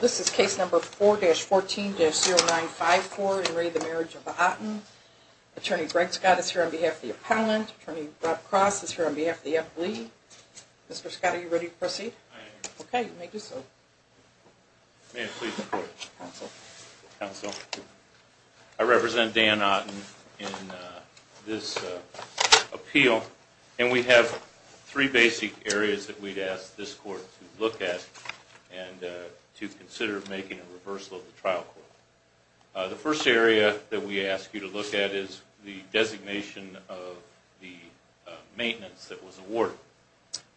This is case number 4-14-0954 in re the Marriage of the Otten. Attorney Greg Scott is here on behalf of the appellant. Attorney Rob Cross is here on behalf of the F. Lee. Mr. Scott, are you ready to proceed? I am. Okay, you may do so. May I please report? Counsel. Counsel. I represent Dan Otten in this appeal, and we have three basic areas that we'd ask this court to look at. And to consider making a reversal of the trial court. The first area that we ask you to look at is the designation of the maintenance that was awarded.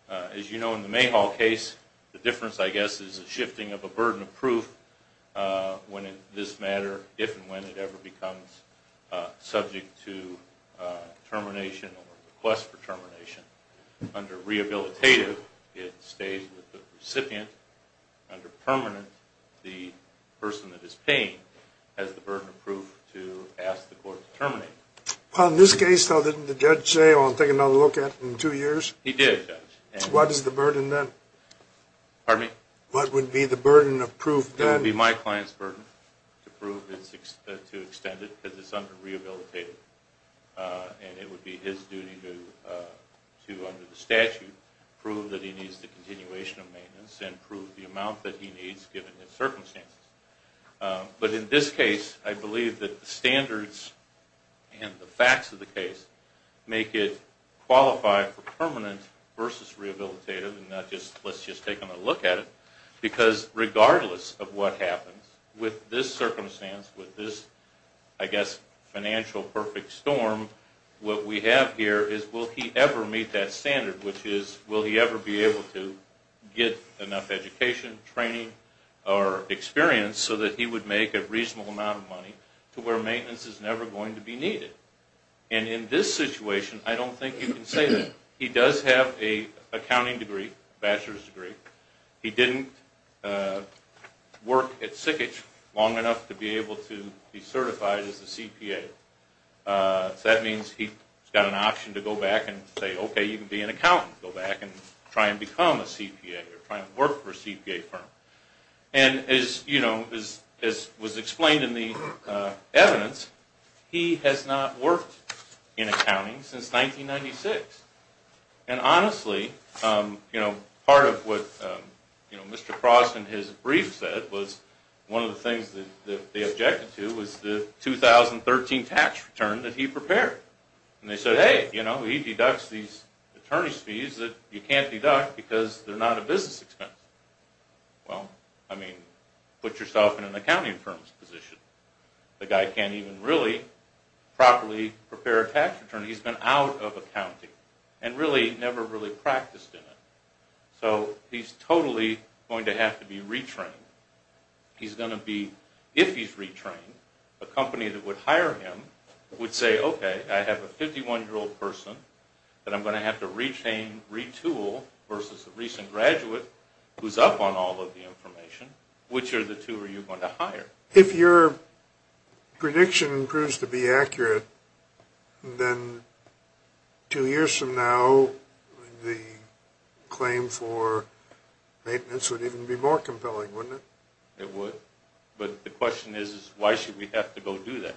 As you know, in the Mayhall case, the difference, I guess, is the shifting of a burden of proof when in this matter, if and when it ever becomes subject to termination or request for termination. Under rehabilitative, it stays with the recipient. Under permanent, the person that is paying has the burden of proof to ask the court to terminate. Well, in this case, though, didn't the judge say, oh, I'll take another look at it in two years? He did, Judge. What is the burden then? Pardon me? What would be the burden of proof then? It would be my client's burden to prove it's, to extend it, because it's under rehabilitative. And it would be his duty to, under the statute, prove that he needs the continuation of maintenance and prove the amount that he needs given his circumstances. But in this case, I believe that the standards and the facts of the case make it qualified for permanent versus rehabilitative, and not just, let's just take another look at it. Because regardless of what happens, with this circumstance, with this, I guess, financial perfect storm, what we have here is will he ever meet that standard, which is will he ever be able to get enough education, training, or experience so that he would make a reasonable amount of money to where maintenance is never going to be needed. And in this situation, I don't think you can say that. He does have an accounting degree, bachelor's degree. He didn't work at Sickage long enough to be able to be certified as a CPA. So that means he's got an option to go back and say, okay, you can be an accountant, go back and try and become a CPA or try and work for a CPA firm. And as, you know, as was explained in the evidence, he has not worked in accounting since 1996. And honestly, you know, part of what Mr. Frost in his brief said was one of the things that they objected to was the 2013 tax return that he prepared. And they said, hey, you know, he deducts these attorney's fees that you can't deduct because they're not a business expense. Well, I mean, put yourself in an accounting firm's position. The guy can't even really properly prepare a tax return. He's been out of accounting and really never really practiced in it. So he's totally going to have to be retrained. He's going to be, if he's retrained, a company that would hire him would say, okay, I have a 51-year-old person that I'm going to have to retrain, retool, versus a recent graduate who's up on all of the information. Which of the two are you going to hire? If your prediction proves to be accurate, then two years from now, the claim for maintenance would even be more compelling, wouldn't it? It would. But the question is, why should we have to go do that?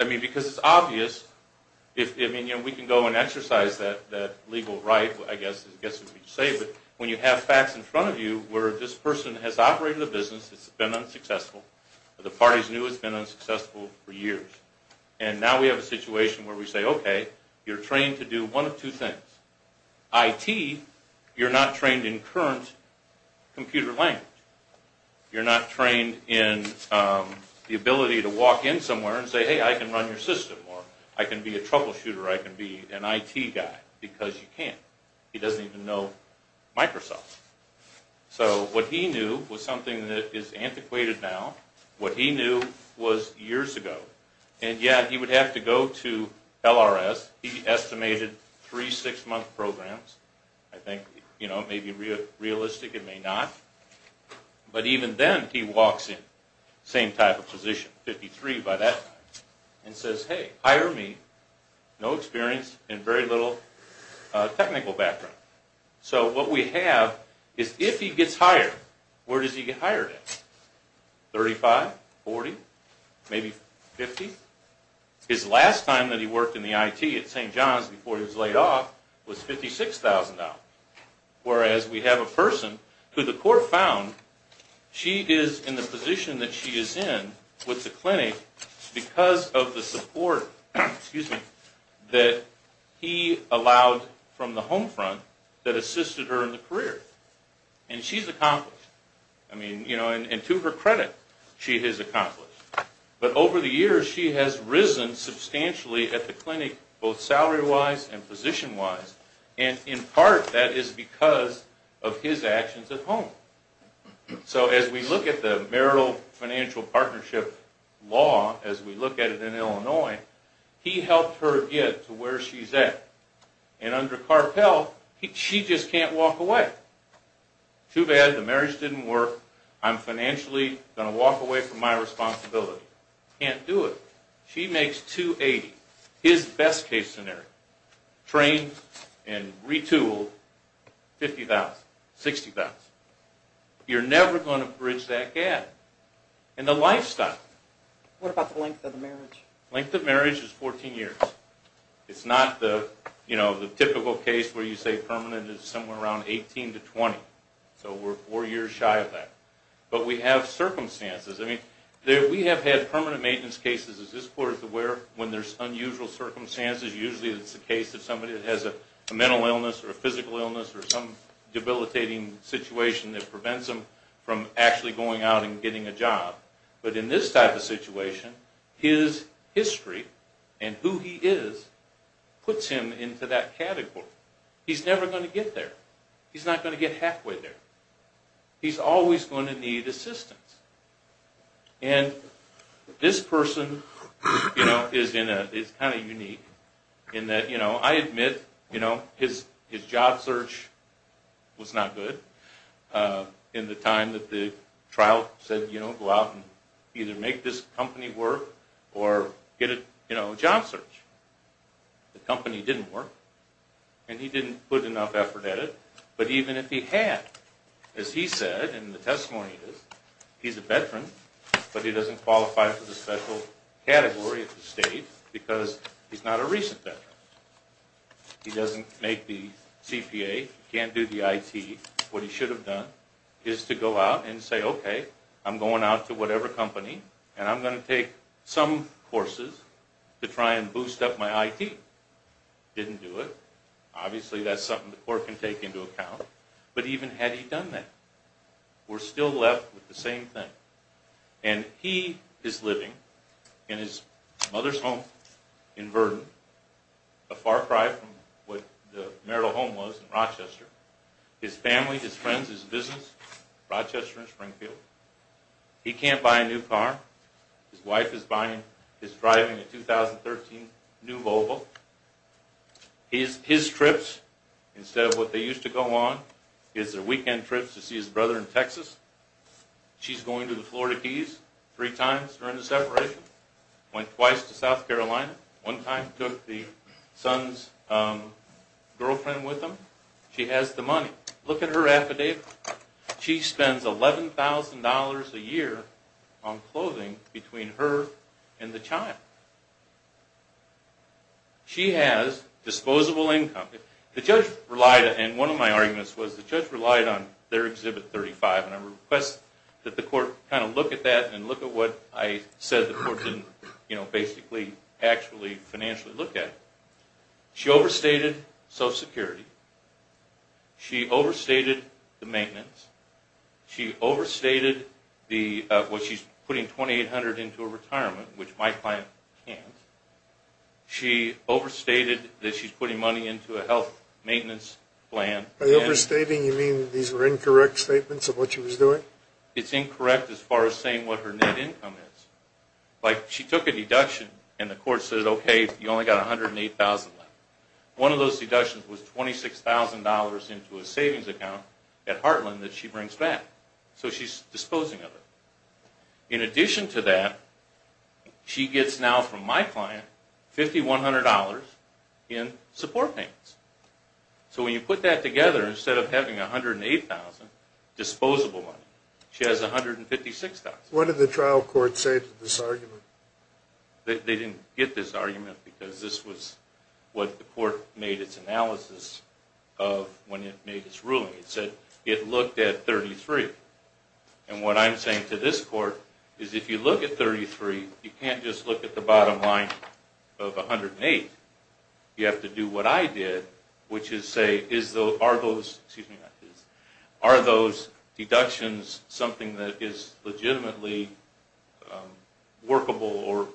I mean, because it's obvious. I mean, we can go and exercise that legal right, I guess, as you say. But when you have facts in front of you where this person has operated a business, it's been unsuccessful, the party's new, it's been unsuccessful for years, and now we have a situation where we say, okay, you're trained to do one of two things. IT, you're not trained in current computer language. You're not trained in the ability to walk in somewhere and say, hey, I can run your system, or I can be a troubleshooter, I can be an IT guy, because you can't. He doesn't even know Microsoft. So what he knew was something that is antiquated now. What he knew was years ago. And yet he would have to go to LRS. He estimated three six-month programs. I think it may be realistic, it may not. But even then, he walks in, same type of position, 53 by that time, and says, hey, hire me, no experience and very little technical background. So what we have is if he gets hired, where does he get hired at? 35, 40, maybe 50? His last time that he worked in the IT at St. John's before he was laid off was $56,000. Whereas we have a person who the court found she is in the position that she is in with the clinic because of the support that he allowed from the home front that assisted her in the career. And she's accomplished. And to her credit, she has accomplished. But over the years, she has risen substantially at the clinic, both salary-wise and position-wise, and in part that is because of his actions at home. So as we look at the marital financial partnership law, as we look at it in Illinois, he helped her get to where she's at. And under Carpel, she just can't walk away. Too bad the marriage didn't work, I'm financially going to walk away from my responsibility. She makes $280,000. His best case scenario, trained and retooled, $50,000, $60,000. You're never going to bridge that gap in the lifestyle. What about the length of the marriage? Length of marriage is 14 years. It's not the typical case where you say permanent is somewhere around 18 to 20. So we're four years shy of that. But we have circumstances. I mean, we have had permanent maintenance cases, as this court is aware, when there's unusual circumstances. Usually it's the case that somebody has a mental illness or a physical illness or some debilitating situation that prevents them from actually going out and getting a job. But in this type of situation, his history and who he is puts him into that category. He's never going to get there. He's not going to get halfway there. He's always going to need assistance. And this person is kind of unique in that I admit his job search was not good in the time that the trial said go out and either make this company work or get a job search. The company didn't work, and he didn't put enough effort at it. But even if he had, as he said in the testimony, he's a veteran, but he doesn't qualify for the special category at the state because he's not a recent veteran. He doesn't make the CPA, can't do the IT. What he should have done is to go out and say, okay, I'm going out to whatever company, and I'm going to take some courses to try and boost up my IT. Didn't do it. Obviously, that's something the court can take into account. But even had he done that, we're still left with the same thing. And he is living in his mother's home in Verdon, a far cry from what the marital home was in Rochester. His family, his friends, his business, Rochester and Springfield. He can't buy a new car. His wife is driving a 2013 new Volvo. His trips, instead of what they used to go on, his weekend trips to see his brother in Texas. She's going to the Florida Keys three times during the separation. Went twice to South Carolina. One time took the son's girlfriend with him. She has the money. Look at her affidavit. She spends $11,000 a year on clothing between her and the child. She has disposable income. The judge relied, and one of my arguments was the judge relied on their Exhibit 35, and I request that the court kind of look at that and look at what I said the court didn't, you know, basically, actually, financially look at. She overstated self-security. She overstated the maintenance. She overstated what she's putting $2,800 into a retirement, which my client can't. She overstated that she's putting money into a health maintenance plan. By overstating, you mean these were incorrect statements of what she was doing? It's incorrect as far as saying what her net income is. Like, she took a deduction, and the court said, okay, you only got $108,000 left. One of those deductions was $26,000 into a savings account at Heartland that she brings back. So she's disposing of it. In addition to that, she gets now from my client $5,100 in support payments. So when you put that together, instead of having $108,000, disposable money, she has $156,000. What did the trial court say to this argument? They didn't get this argument because this was what the court made its analysis of when it made its ruling. It said it looked at $33,000. And what I'm saying to this court is if you look at $33,000, you can't just look at the bottom line of $108,000. You have to do what I did, which is say, are those deductions something that is legitimately workable or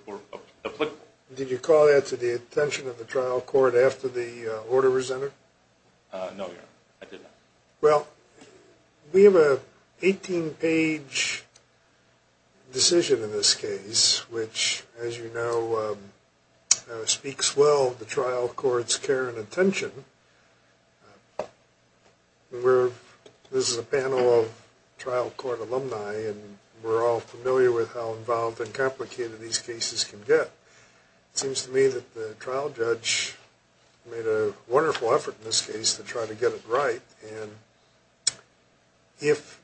applicable? Did you call that to the attention of the trial court after the order was entered? No, Your Honor. I did not. Well, we have an 18-page decision in this case, which, as you know, speaks well of the trial court's care and attention. This is a panel of trial court alumni, and we're all familiar with how involved and complicated these cases can get. It seems to me that the trial judge made a wonderful effort in this case to try to get it right. And if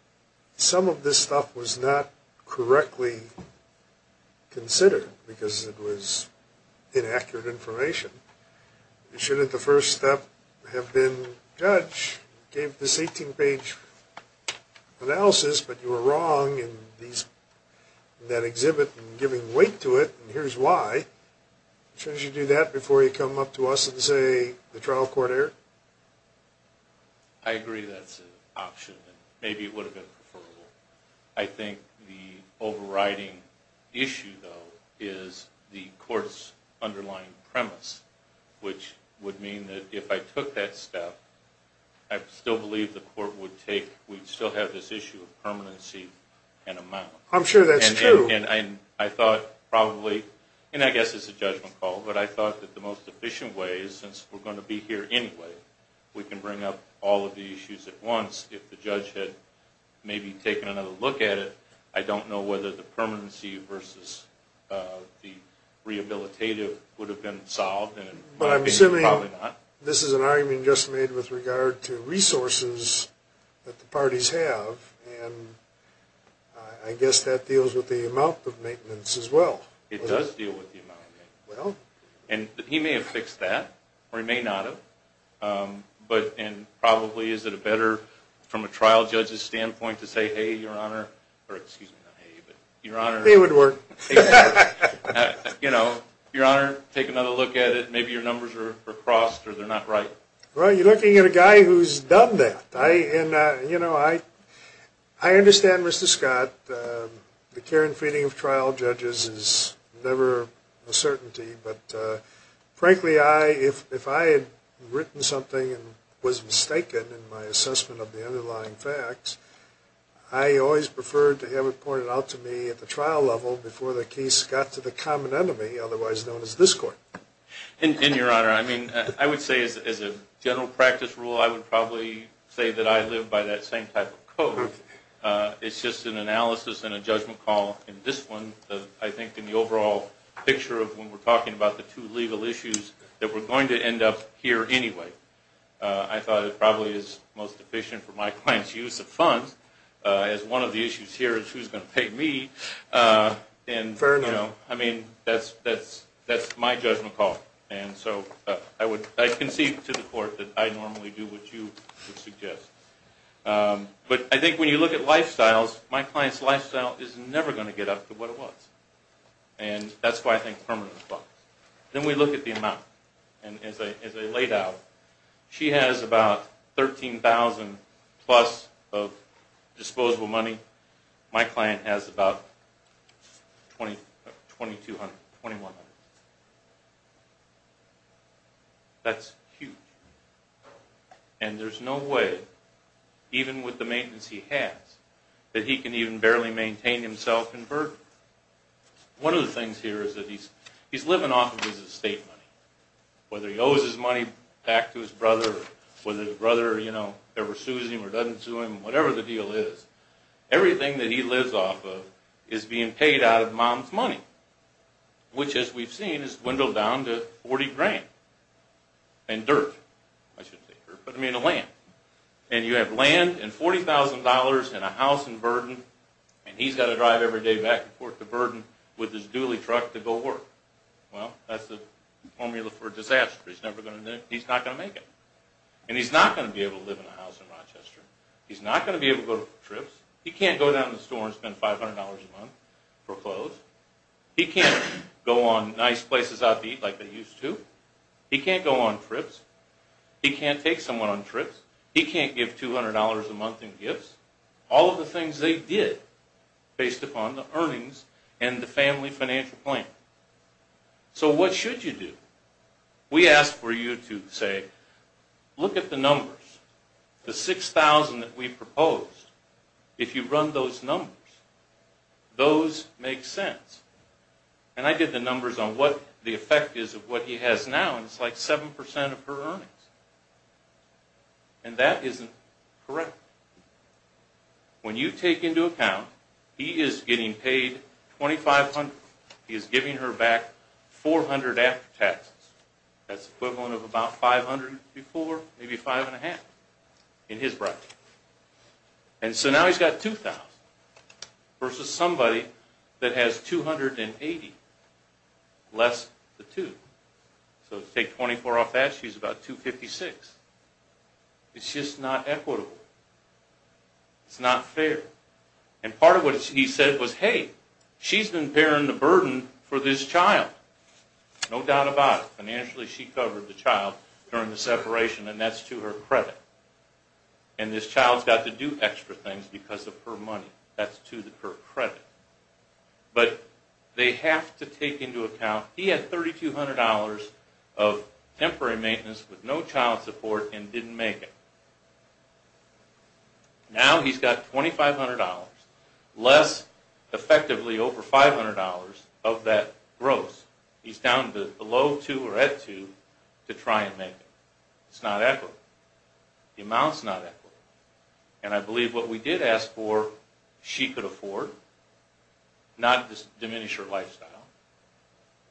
some of this stuff was not correctly considered because it was inaccurate information, shouldn't the first step have been, judge, gave this 18-page analysis, but you were wrong in that exhibit and giving weight to it, and here's why. Shouldn't you do that before you come up to us and say the trial court erred? I agree that's an option, and maybe it would have been preferable. I think the overriding issue, though, is the court's underlying premise, which would mean that if I took that step, I still believe the court would still have this issue of permanency and amount. I'm sure that's true. And I thought probably, and I guess it's a judgment call, but I thought that the most efficient way, since we're going to be here anyway, we can bring up all of the issues at once. If the judge had maybe taken another look at it, I don't know whether the permanency versus the rehabilitative would have been solved. But I'm assuming this is an argument just made with regard to resources that the parties have, and I guess that deals with the amount of maintenance as well. It does deal with the amount of maintenance. And he may have fixed that, or he may not have, and probably is it better from a trial judge's standpoint to say, hey, your honor, or excuse me, not hey, but your honor. It would work. You know, your honor, take another look at it. Maybe your numbers are crossed or they're not right. Well, you're looking at a guy who's done that. You know, I understand, Mr. Scott, the care and feeding of trial judges is never a certainty. But frankly, if I had written something and was mistaken in my assessment of the underlying facts, I always preferred to have it pointed out to me at the trial level before the case got to the common enemy, otherwise known as this court. And your honor, I mean, I would say as a general practice rule, I would probably say that I live by that same type of code. It's just an analysis and a judgment call. And this one, I think in the overall picture of when we're talking about the two legal issues, that we're going to end up here anyway. I thought it probably is most efficient for my client's use of funds as one of the issues here is who's going to pay me. Fair enough. You know, I mean, that's my judgment call. And so I concede to the court that I normally do what you would suggest. But I think when you look at lifestyles, my client's lifestyle is never going to get up to what it was. And that's why I think permanent funds. Then we look at the amount. And as I laid out, she has about $13,000 plus of disposable money. My client has about $2,200, $2,100. That's huge. And there's no way, even with the maintenance he has, that he can even barely maintain himself in burden. One of the things here is that he's living off of his estate money. Whether he owes his money back to his brother or whether his brother ever sues him or doesn't sue him, whatever the deal is, everything that he lives off of is being paid out of mom's money. Which, as we've seen, is dwindled down to $40,000. And dirt. I shouldn't say dirt, but I mean land. And you have land and $40,000 and a house in burden, and he's got to drive every day back and forth to burden with his dually truck to go work. Well, that's the formula for disaster. He's not going to make it. And he's not going to be able to live in a house in Rochester. He's not going to be able to go on trips. He can't go down to the store and spend $500 a month for clothes. He can't go on nice places out to eat like they used to. He can't go on trips. He can't take someone on trips. He can't give $200 a month in gifts. All of the things they did based upon the earnings and the family financial plan. So what should you do? We ask for you to say, look at the numbers, the $6,000 that we proposed. If you run those numbers, those make sense. And I did the numbers on what the effect is of what he has now, and it's like 7% of her earnings. And that isn't correct. When you take into account, he is getting paid $2,500. He is giving her back $400 after taxes. That's the equivalent of about $500 before, maybe $5.50 in his bracket. And so now he's got $2,000 versus somebody that has $280 less the $2,000. So to take $24 off that, she's about $256. It's just not equitable. It's not fair. And part of what he said was, hey, she's been bearing the burden for this child. No doubt about it. Financially, she covered the child during the separation, and that's to her credit. And this child's got to do extra things because of her money. That's to her credit. But they have to take into account, he had $3,200 of temporary maintenance with no child support and didn't make it. Now he's got $2,500, less effectively over $500 of that gross. He's down below 2 or at 2 to try and make it. It's not equitable. The amount's not equitable. And I believe what we did ask for, she could afford not to diminish her lifestyle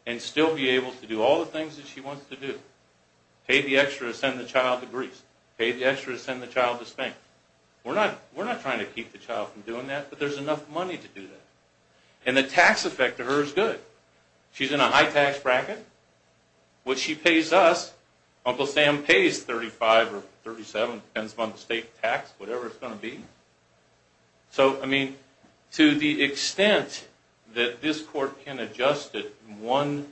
and still be able to do all the things that she wants to do. Pay the extra to send the child to Greece. Pay the extra to send the child to Spain. We're not trying to keep the child from doing that, but there's enough money to do that. And the tax effect to her is good. She's in a high-tax bracket. What she pays us, Uncle Sam pays $35 or $37, depends upon the state tax, whatever it's going to be. So, I mean, to the extent that this court can adjust it in one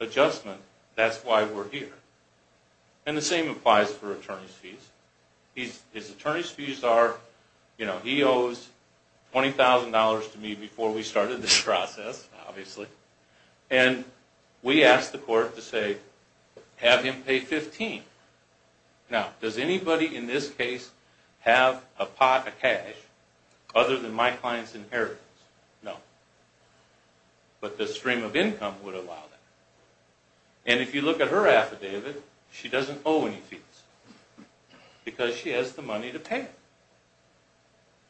adjustment, that's why we're here. And the same applies for attorney's fees. His attorney's fees are, you know, he owes $20,000 to me before we started this process, obviously. And we asked the court to say, have him pay $15,000. Now, does anybody in this case have a pot of cash other than my client's inheritance? No. But the stream of income would allow that. And if you look at her affidavit, she doesn't owe any fees because she has the money to pay it.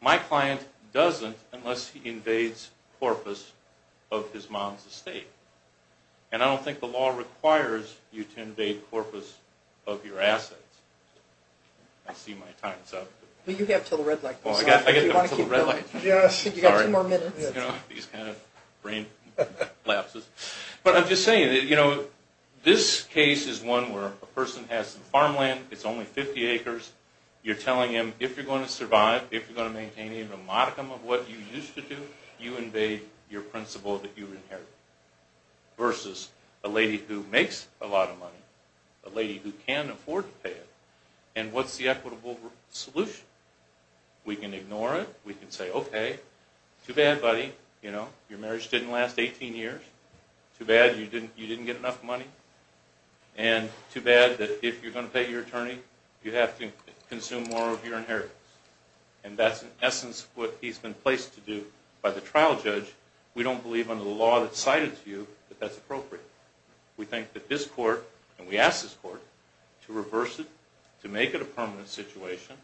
My client doesn't unless he invades corpus of his mom's estate. And I don't think the law requires you to invade corpus of your assets. I see my time's up. Well, you have until the red light. Do you want to keep going? Yes. You've got two more minutes. You know, these kind of brain lapses. But I'm just saying, you know, this case is one where a person has some farmland. It's only 50 acres. You're telling him, if you're going to survive, if you're going to maintain a modicum of what you used to do, you invade your principle that you inherited. Versus a lady who makes a lot of money, a lady who can afford to pay it. And what's the equitable solution? We can ignore it. We can say, okay, too bad, buddy, you know, your marriage didn't last 18 years. Too bad you didn't get enough money. And too bad that if you're going to pay your attorney, you have to consume more of your inheritance. And that's, in essence, what he's been placed to do by the trial judge. We don't believe under the law that's cited to you that that's appropriate. We think that this court, and we ask this court, to reverse it, to make it a permanent situation,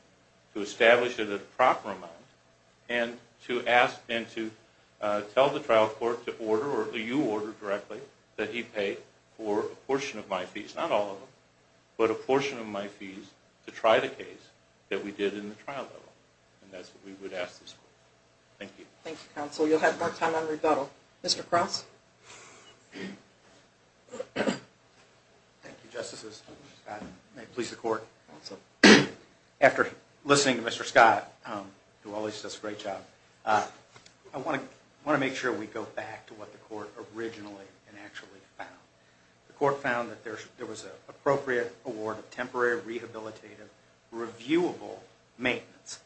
to establish it at a proper amount, and to tell the trial court to order, or you order directly, that he pay for a portion of my fees, not all of them, but a portion of my fees to try the case that we did in the trial level. And that's what we would ask this court. Thank you. Thank you, counsel. You'll have more time on rebuttal. Thank you, Justices. May it please the Court. After listening to Mr. Scott, who always does a great job, I want to make sure we go back to what the court originally and actually found. The court found that there was an appropriate award of temporary rehabilitative reviewable maintenance.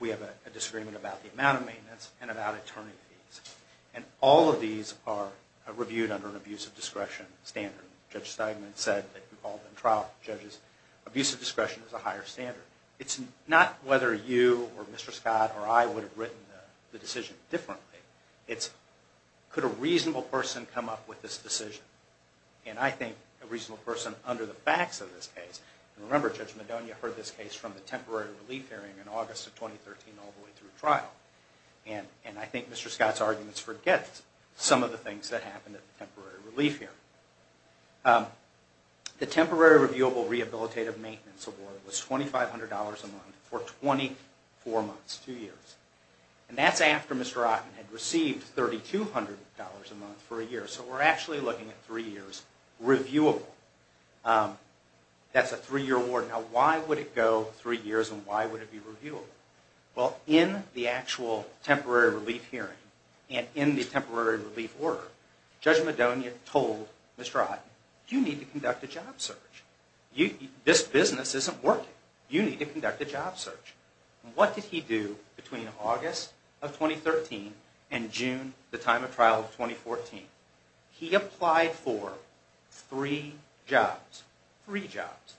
We have a disagreement about the amount of maintenance and about attorney fees. And all of these are reviewed under an abuse of discretion standard. Judge Steinman said that he called the trial judge's abuse of discretion as a higher standard. It's not whether you or Mr. Scott or I would have written the decision differently. It's could a reasonable person come up with this decision. And I think a reasonable person under the facts of this case, and remember Judge Madonia heard this case from the temporary relief hearing in August of 2013 all the way through trial. And I think Mr. Scott's arguments forget some of the things that happened at the temporary relief hearing. The temporary reviewable rehabilitative maintenance award was $2,500 a month for 24 months, two years. And that's after Mr. Otten had received $3,200 a month for a year. So we're actually looking at three years reviewable. That's a three-year award. Now why would it go three years and why would it be reviewable? Well, in the actual temporary relief hearing and in the temporary relief order, Judge Madonia told Mr. Otten, you need to conduct a job search. This business isn't working. You need to conduct a job search. And what did he do between August of 2013 and June, the time of trial, of 2014? He applied for three jobs. Three jobs.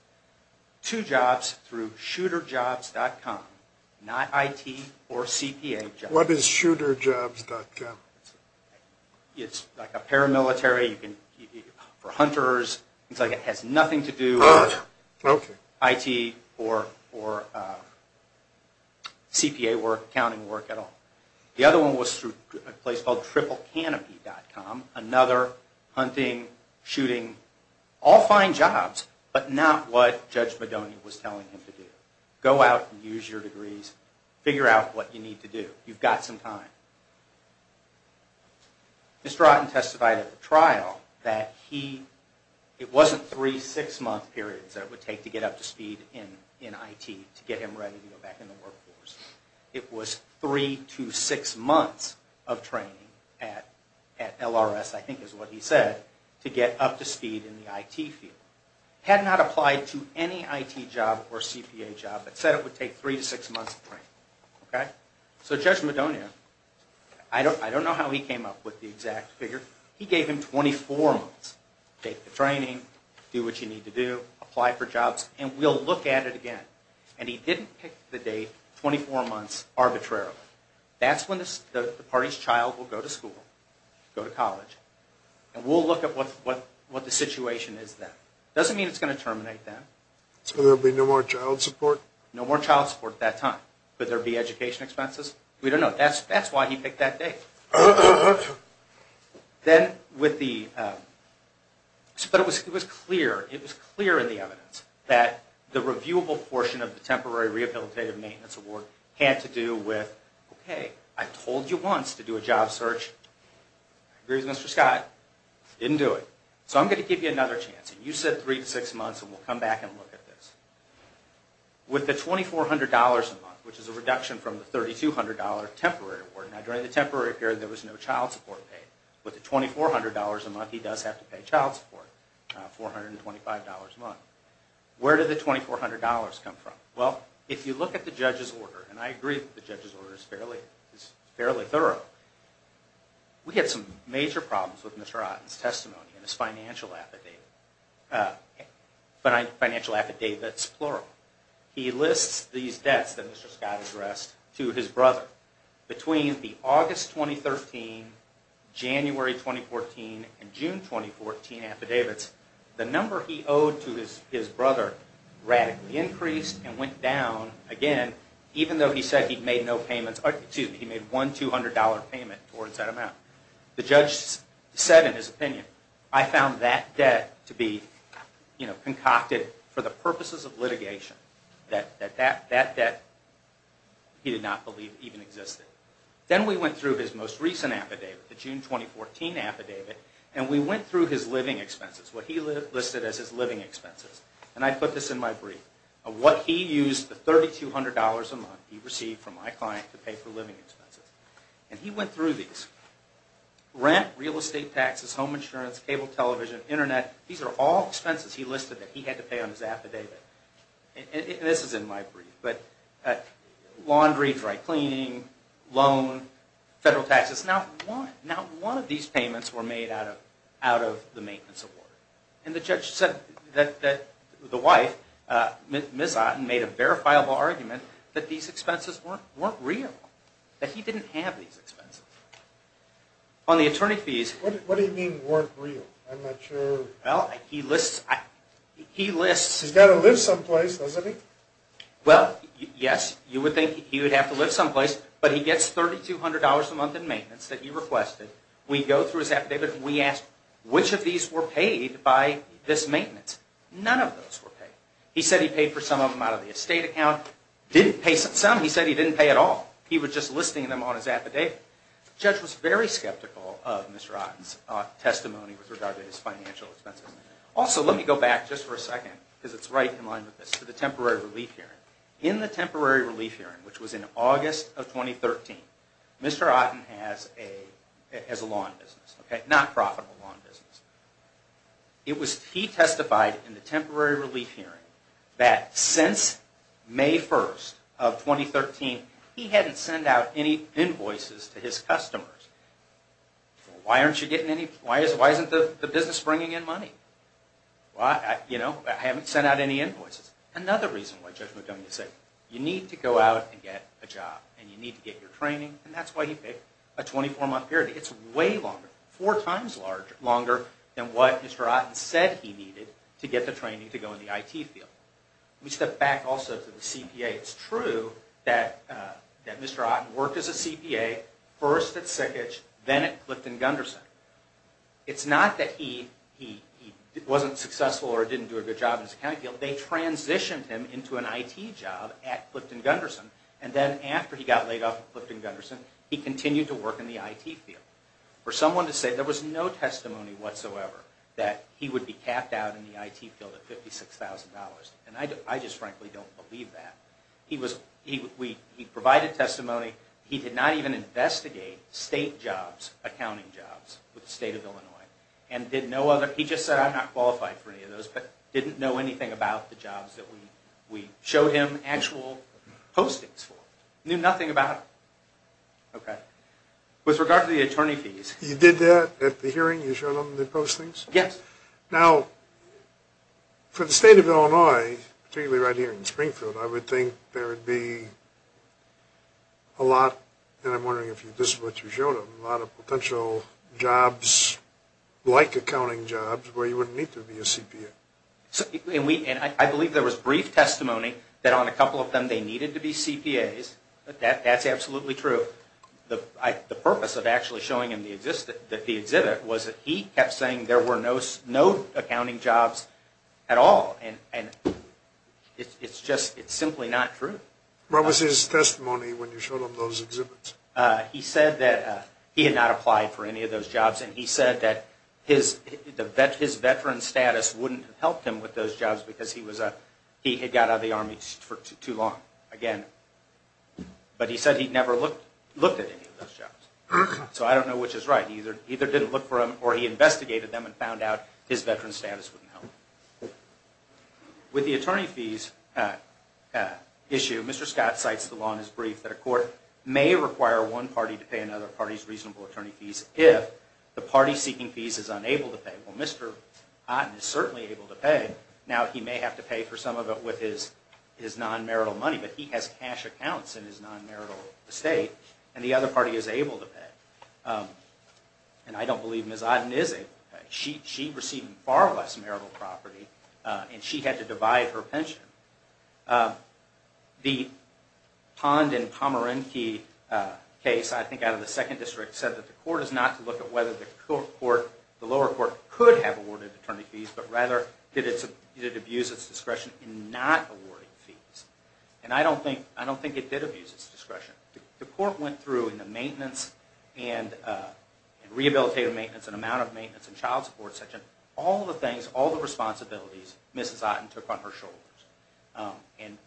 Two jobs through shooterjobs.com, not IT or CPA jobs. What is shooterjobs.com? It's like a paramilitary for hunters. It's like it has nothing to do with IT or CPA work, accounting work at all. The other one was through a place called triplecanopy.com, another hunting, shooting, all fine jobs, but not what Judge Madonia was telling him to do. Go out and use your degrees. Figure out what you need to do. You've got some time. Mr. Otten testified at the trial that it wasn't three six-month periods that it would take to get up to speed in IT to get him ready to go back in the workforce. It was three to six months of training at LRS, I think is what he said, to get up to speed in the IT field. Had not applied to any IT job or CPA job, but said it would take three to six months of training. So Judge Madonia, I don't know how he came up with the exact figure. He gave him 24 months. Take the training, do what you need to do, apply for jobs, and we'll look at it again. And he didn't pick the date 24 months arbitrarily. That's when the party's child will go to school, go to college, and we'll look at what the situation is then. Doesn't mean it's going to terminate then. So there will be no more child support? No more child support at that time. Could there be education expenses? We don't know. That's why he picked that date. It was clear in the evidence that the reviewable portion of the Temporary Rehabilitative Maintenance Award had to do with, okay, I told you once to do a job search. Mr. Scott didn't do it. So I'm going to give you another chance. You said three to six months, and we'll come back and look at this. With the $2,400 a month, which is a reduction from the $3,200 Temporary Award, now during the temporary period, there was no child support paid. With the $2,400 a month, he does have to pay child support, $425 a month. Where did the $2,400 come from? Well, if you look at the judge's order, and I agree that the judge's order is fairly thorough, we had some major problems with Mr. Otten's testimony and his financial affidavits, plural. He lists these debts that Mr. Scott addressed to his brother. Between the August 2013, January 2014, and June 2014 affidavits, the number he owed to his brother radically increased and went down again, even though he said he made one $200 payment towards that amount. The judge said in his opinion, I found that debt to be concocted for the purposes of litigation, that that debt he did not believe even existed. Then we went through his most recent affidavit, the June 2014 affidavit, and we went through his living expenses, what he listed as his living expenses. And I put this in my brief of what he used the $3,200 a month he received from my client to pay for living expenses. And he went through these. Rent, real estate taxes, home insurance, cable television, Internet, these are all expenses he listed that he had to pay on his affidavit. And this is in my brief, but laundry, dry cleaning, loan, federal taxes, not one of these payments were made out of the maintenance award. And the judge said that the wife, Ms. Otten, made a verifiable argument that these expenses weren't real, that he didn't have these expenses. On the attorney fees... What do you mean weren't real? I'm not sure. Well, he lists... He's got to live someplace, doesn't he? Well, yes, you would think he would have to live someplace, but he gets $3,200 a month in maintenance that he requested. We go through his affidavit and we ask which of these were paid by this maintenance. None of those were paid. He said he paid for some of them out of the estate account. Some he said he didn't pay at all. He was just listing them on his affidavit. The judge was very skeptical of Mr. Otten's testimony with regard to his financial expenses. Also, let me go back just for a second, because it's right in line with this, to the temporary relief hearing. In the temporary relief hearing, which was in August of 2013, Mr. Otten has a lawn business, not profitable lawn business. He testified in the temporary relief hearing that since May 1st of 2013, he hadn't sent out any invoices to his customers. Why isn't the business bringing in money? I haven't sent out any invoices. Another reason why Judge McDonough is sick. You need to go out and get a job, and you need to get your training, and that's why he picked a 24-month period. It's way longer, four times longer than what Mr. Otten said he needed to get the training to go in the IT field. Let me step back also to the CPA. It's true that Mr. Otten worked as a CPA first at SickEdge, then at Clifton Gunderson. It's not that he wasn't successful or didn't do a good job in his accounting field. They transitioned him into an IT job at Clifton Gunderson, and then after he got laid off at Clifton Gunderson, he continued to work in the IT field. For someone to say there was no testimony whatsoever that he would be capped out in the IT field at $56,000, and I just frankly don't believe that. He provided testimony. He did not even investigate state jobs, accounting jobs with the state of Illinois, and did no other. He just said, I'm not qualified for any of those, but didn't know anything about the jobs that we showed him actual postings for. Knew nothing about them. With regard to the attorney fees. You did that at the hearing? You showed them the postings? Yes. Now, for the state of Illinois, particularly right here in Springfield, I would think there would be a lot, and I'm wondering if this is what you showed them, a lot of potential jobs like accounting jobs where you wouldn't need to be a CPA. I believe there was brief testimony that on a couple of them they needed to be CPAs. That's absolutely true. The purpose of actually showing him the exhibit was that he kept saying there were no accounting jobs at all, and it's just simply not true. What was his testimony when you showed him those exhibits? He said that he had not applied for any of those jobs, and he said that his veteran status wouldn't have helped him with those jobs because he had got out of the Army for too long. But he said he never looked at any of those jobs. So I don't know which is right. He either didn't look for them, or he investigated them and found out his veteran status wouldn't help. With the attorney fees issue, Mr. Scott cites the law in his brief that a court may require one party to pay another party's reasonable attorney fees if the party seeking fees is unable to pay. Well, Mr. Otten is certainly able to pay. Now, he may have to pay for some of it with his non-marital money, but he has cash accounts in his non-marital estate, and the other party is able to pay. And I don't believe Ms. Otten is able to pay. She received far less marital property, and she had to divide her pension. The Pond and Pomeranke case, I think out of the 2nd District, said that the court is not to look at whether the lower court could have awarded attorney fees, but rather did it abuse its discretion in not awarding fees. And I don't think it did abuse its discretion. The court went through in the maintenance and rehabilitative maintenance and amount of maintenance and child support section, all the things, all the responsibilities Ms. Otten took on her shoulders. And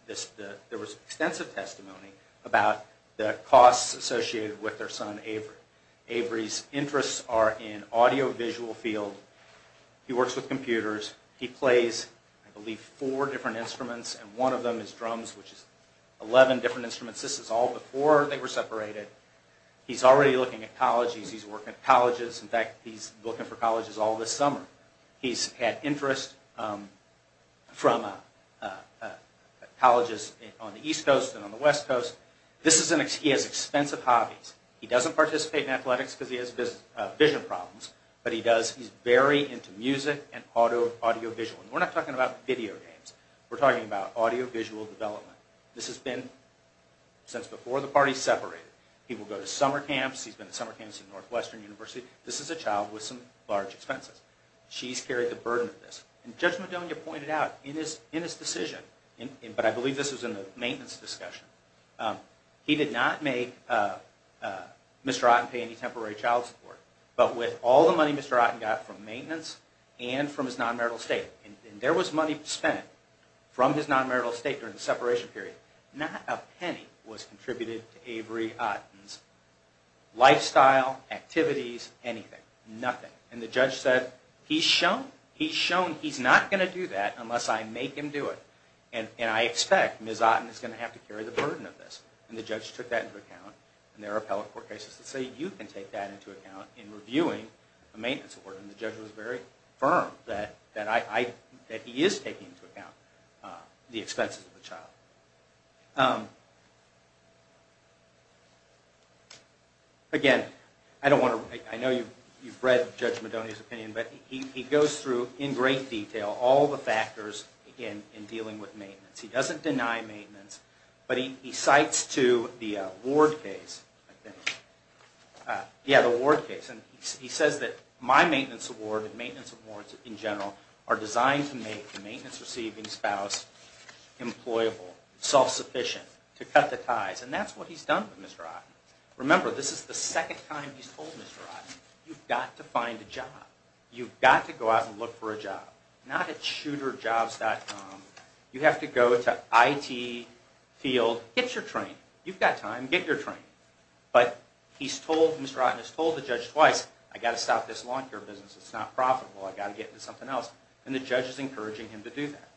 there was extensive testimony about the costs associated with their son, Avery. Avery's interests are in audiovisual field. He works with computers. He plays, I believe, 4 different instruments, and one of them is drums, which is 11 different instruments. This is all before they were separated. He's already looking at colleges. He's working at colleges. In fact, he's looking for colleges all this summer. He's had interest from colleges on the East Coast and on the West Coast. He has expensive hobbies. He doesn't participate in athletics because he has vision problems, but he's very into music and audiovisual. We're not talking about video games. We're talking about audiovisual development. This has been since before the parties separated. He will go to summer camps. He's been to summer camps at Northwestern University. This is a child with some large expenses. She's carried the burden of this. And Judge Madonia pointed out in his decision, but I believe this was in the maintenance discussion, he did not make Mr. Otten pay any temporary child support. But with all the money Mr. Otten got from maintenance and from his non-marital estate, and there was money spent from his non-marital estate during the separation period, not a penny was contributed to Avery Otten's lifestyle, activities, anything. Nothing. And the judge said, he's shown he's not going to do that unless I make him do it. And I expect Ms. Otten is going to have to carry the burden of this. And the judge took that into account. And there are appellate court cases that say you can take that into account in reviewing a maintenance award. And the judge was very firm that he is taking into account the expenses of the child. Again, I know you've read Judge Madonia's opinion, but he goes through in great detail all the factors in dealing with maintenance. He doesn't deny maintenance, but he cites to the Ward case, I think. Yeah, the Ward case. And he says that my maintenance award and maintenance awards in general are designed to make the maintenance-receiving spouse employable, self-sufficient, to cut the ties. And that's what he's done with Ms. Otten. Remember, this is the second time he's told Ms. Otten, you've got to find a job. You've got to go out and look for a job. Not at shooterjobs.com. You have to go to IT field. Get your training. You've got time. Get your training. But he's told, Mr. Otten has told the judge twice, I've got to stop this lawn care business. It's not profitable. I've got to get into something else. And the judge is encouraging him to do that.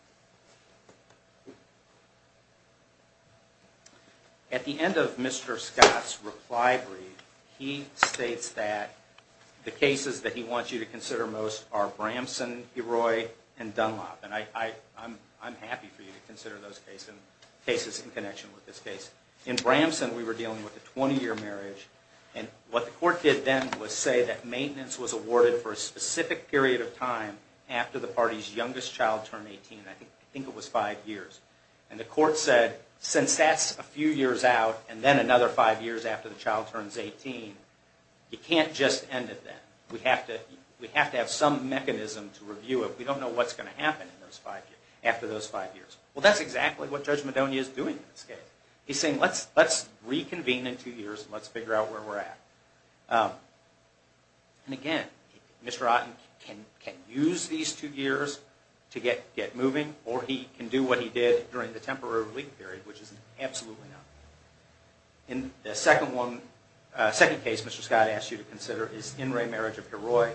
At the end of Mr. Scott's reply brief, he states that the cases that he wants you to consider most are Bramson, Heroy, and Dunlop. And I'm happy for you to consider those cases in connection with this case. In Bramson, we were dealing with a 20-year marriage. And what the court did then was say that maintenance was awarded for a specific period of time after the party's youngest child turned 18. I think it was five years. And the court said, since that's a few years out, and then another five years after the child turns 18, you can't just end it then. We have to have some mechanism to review it. We don't know what's going to happen after those five years. Well, that's exactly what Judge Madonia is doing in this case. He's saying, let's reconvene in two years, and let's figure out where we're at. And again, Mr. Otten can use these two years to get moving, or he can do what he did during the temporary relief period, which is absolutely not the case. And the second case Mr. Scott asked you to consider is In re Marriage of Heroy.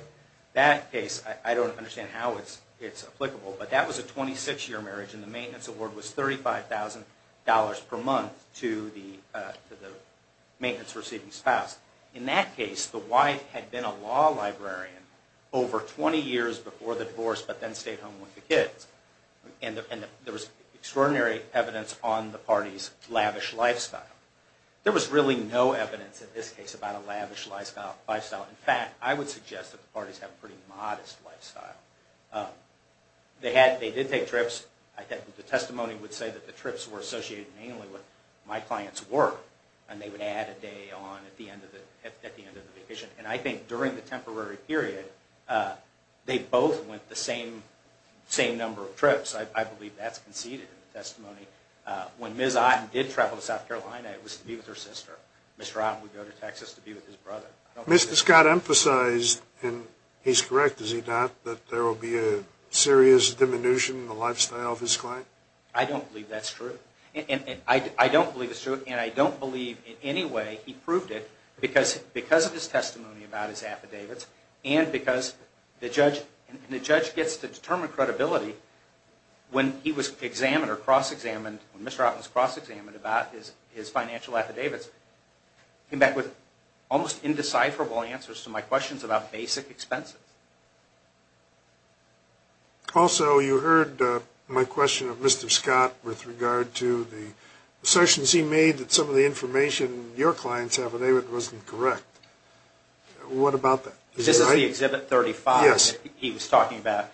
That case, I don't understand how it's applicable, but that was a 26-year marriage, and the maintenance award was $35,000 per month to the maintenance-receiving spouse. In that case, the wife had been a law librarian over 20 years before the divorce, but then stayed home with the kids. And there was extraordinary evidence on the party's lavish lifestyle. There was really no evidence in this case about a lavish lifestyle. In fact, I would suggest that the parties have a pretty modest lifestyle. They did take trips. The testimony would say that the trips were associated mainly with my client's work, and they would add a day on at the end of the vacation. And I think during the temporary period, they both went the same number of trips. I believe that's conceded in the testimony. When Ms. Otten did travel to South Carolina, it was to be with her sister. Mr. Scott emphasized, and he's correct, is he not, that there will be a serious diminution in the lifestyle of his client? I don't believe that's true. I don't believe it's true, and I don't believe in any way he proved it because of his testimony about his affidavits and because the judge gets to determine credibility when he was examined or cross-examined, when Mr. Otten was cross-examined about his financial affidavits. He came back with almost indecipherable answers to my questions about basic expenses. Also, you heard my question of Mr. Scott with regard to the assertions he made that some of the information your clients have in their affidavit wasn't correct. What about that? This is the Exhibit 35 that he was talking about.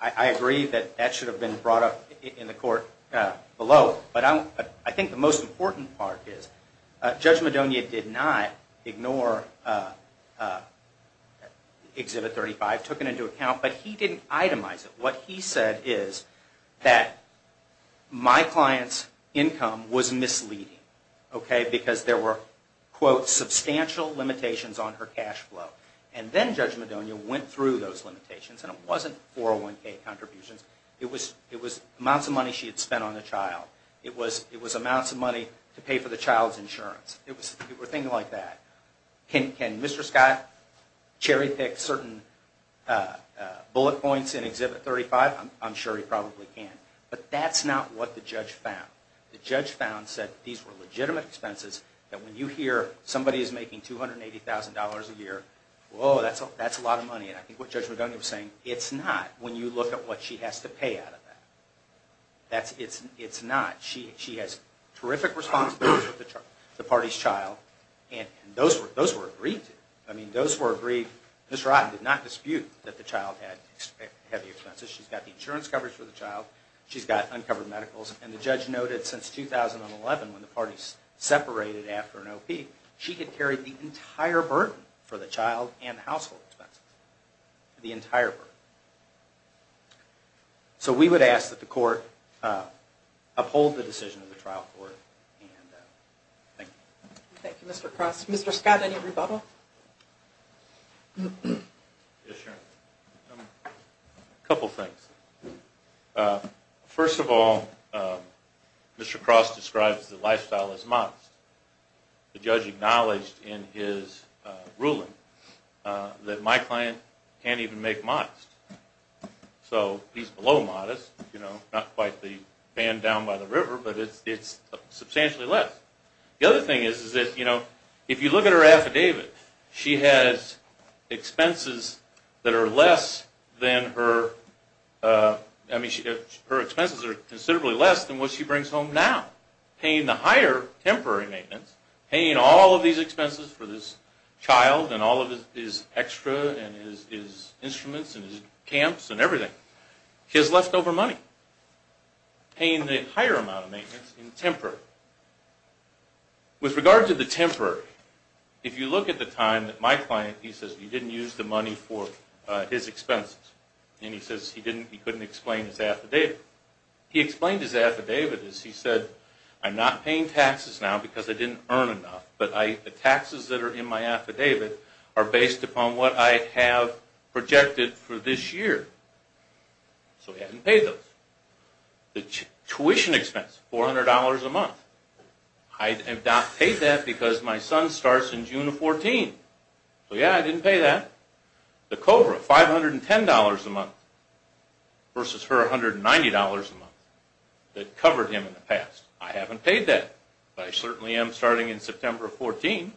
I agree that that should have been brought up in the court below, but I think the most important part is Judge Madonia did not ignore Exhibit 35, took it into account, but he didn't itemize it. What he said is that my client's income was misleading because there were, quote, substantial limitations on her cash flow, and then Judge Madonia went through those limitations, and it wasn't 401k contributions. It was amounts of money she had spent on the child. It was amounts of money to pay for the child's insurance. It was a thing like that. Can Mr. Scott cherry-pick certain bullet points in Exhibit 35? I'm sure he probably can. But that's not what the judge found. The judge found that these were legitimate expenses, that when you hear somebody is making $280,000 a year, whoa, that's a lot of money. And I think what Judge Madonia was saying, it's not when you look at what she has to pay out of that. It's not. She has terrific responsibilities with the party's child, and those were agreed to. I mean, those were agreed. Ms. Rotten did not dispute that the child had heavy expenses. She's got the insurance coverage for the child. She's got uncovered medicals. And the judge noted since 2011 when the parties separated after an OP, she had carried the entire burden for the child and the household expenses, the entire burden. So we would ask that the court uphold the decision of the trial court. Thank you. Thank you, Mr. Cross. Mr. Scott, any rebuttal? Yes, Sharon. A couple things. First of all, Mr. Cross describes the lifestyle as modest. The judge acknowledged in his ruling that my client can't even make modest. So he's below modest, you know, not quite the man down by the river, but it's substantially less. The other thing is that, you know, if you look at her affidavit, she has expenses that are less than her – I mean, her expenses are considerably less than what she brings home now. Paying the higher temporary maintenance, paying all of these expenses for this child and all of his extra and his instruments and his camps and everything, he has leftover money. Paying the higher amount of maintenance in temporary. With regard to the temporary, if you look at the time that my client, he says he didn't use the money for his expenses, and he says he couldn't explain his affidavit. He explained his affidavit as he said, I'm not paying taxes now because I didn't earn enough, but the taxes that are in my affidavit are based upon what I have projected for this year. So he hasn't paid those. The tuition expense, $400 a month. I have not paid that because my son starts in June of 2014. So, yeah, I didn't pay that. The COBRA, $510 a month versus her $190 a month that covered him in the past. I haven't paid that, but I certainly am starting in September of 2014.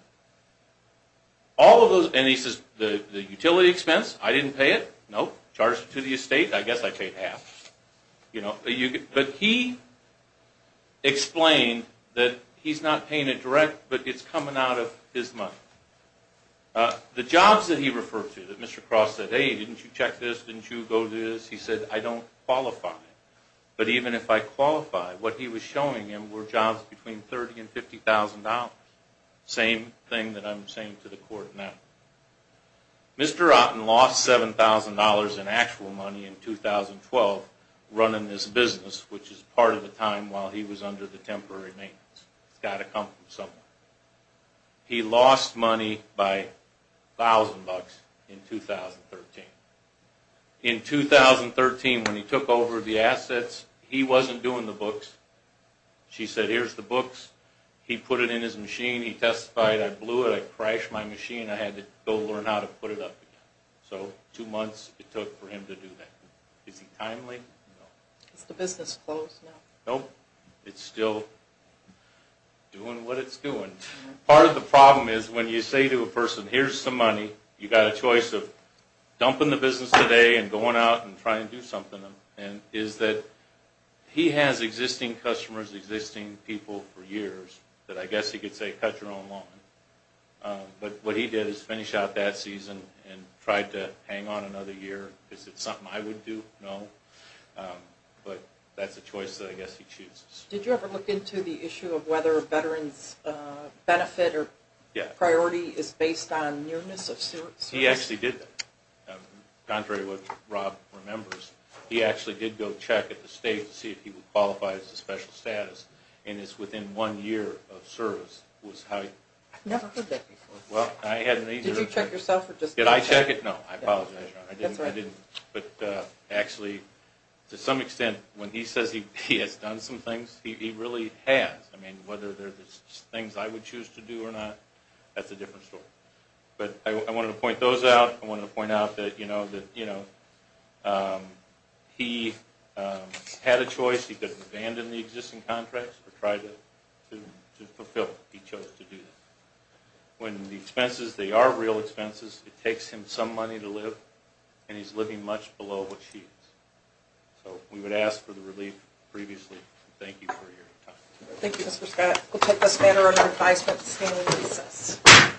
All of those – and he says the utility expense, I didn't pay it. Nope. Charged it to the estate. I guess I paid half. But he explained that he's not paying it direct, but it's coming out of his money. The jobs that he referred to that Mr. Cross said, hey, didn't you check this? Didn't you go do this? He said, I don't qualify. But even if I qualify, what he was showing him were jobs between $30,000 and $50,000. Same thing that I'm saying to the court now. Mr. Otten lost $7,000 in actual money in 2012 running this business, which is part of the time while he was under the temporary maintenance. It's got to come from somewhere. He lost money by $1,000 in 2013. In 2013, when he took over the assets, he wasn't doing the books. She said, here's the books. He put it in his machine. He testified, I blew it. I crashed my machine. I had to go learn how to put it up again. So two months it took for him to do that. Is he timely? No. Is the business closed now? Nope. It's still doing what it's doing. Part of the problem is when you say to a person, here's some money, you've got a choice of dumping the business today and going out and trying to do something, and is that he has existing customers, existing people for years that I guess he could say cut your own lawn. But what he did is finish out that season and tried to hang on another year. Is it something I would do? No. But that's a choice that I guess he chooses. Did you ever look into the issue of whether a veteran's benefit or priority is based on nearness of service? He actually did that, contrary to what Rob remembers. He actually did go check at the state to see if he would qualify as a special benefit. I've never heard that before. Did you check yourself? Did I check it? No, I apologize. That's all right. I didn't. But actually, to some extent, when he says he has done some things, he really has. I mean, whether they're things I would choose to do or not, that's a different story. But I wanted to point those out. I wanted to point out that he had a choice. He could abandon the existing contracts or try to fulfill what he chose to do. When the expenses, they are real expenses, it takes him some money to live, and he's living much below what she is. So we would ask for the relief previously. Thank you for your time. Thank you, Mr. Scott. We'll take this matter under advisement. This meeting is recessed.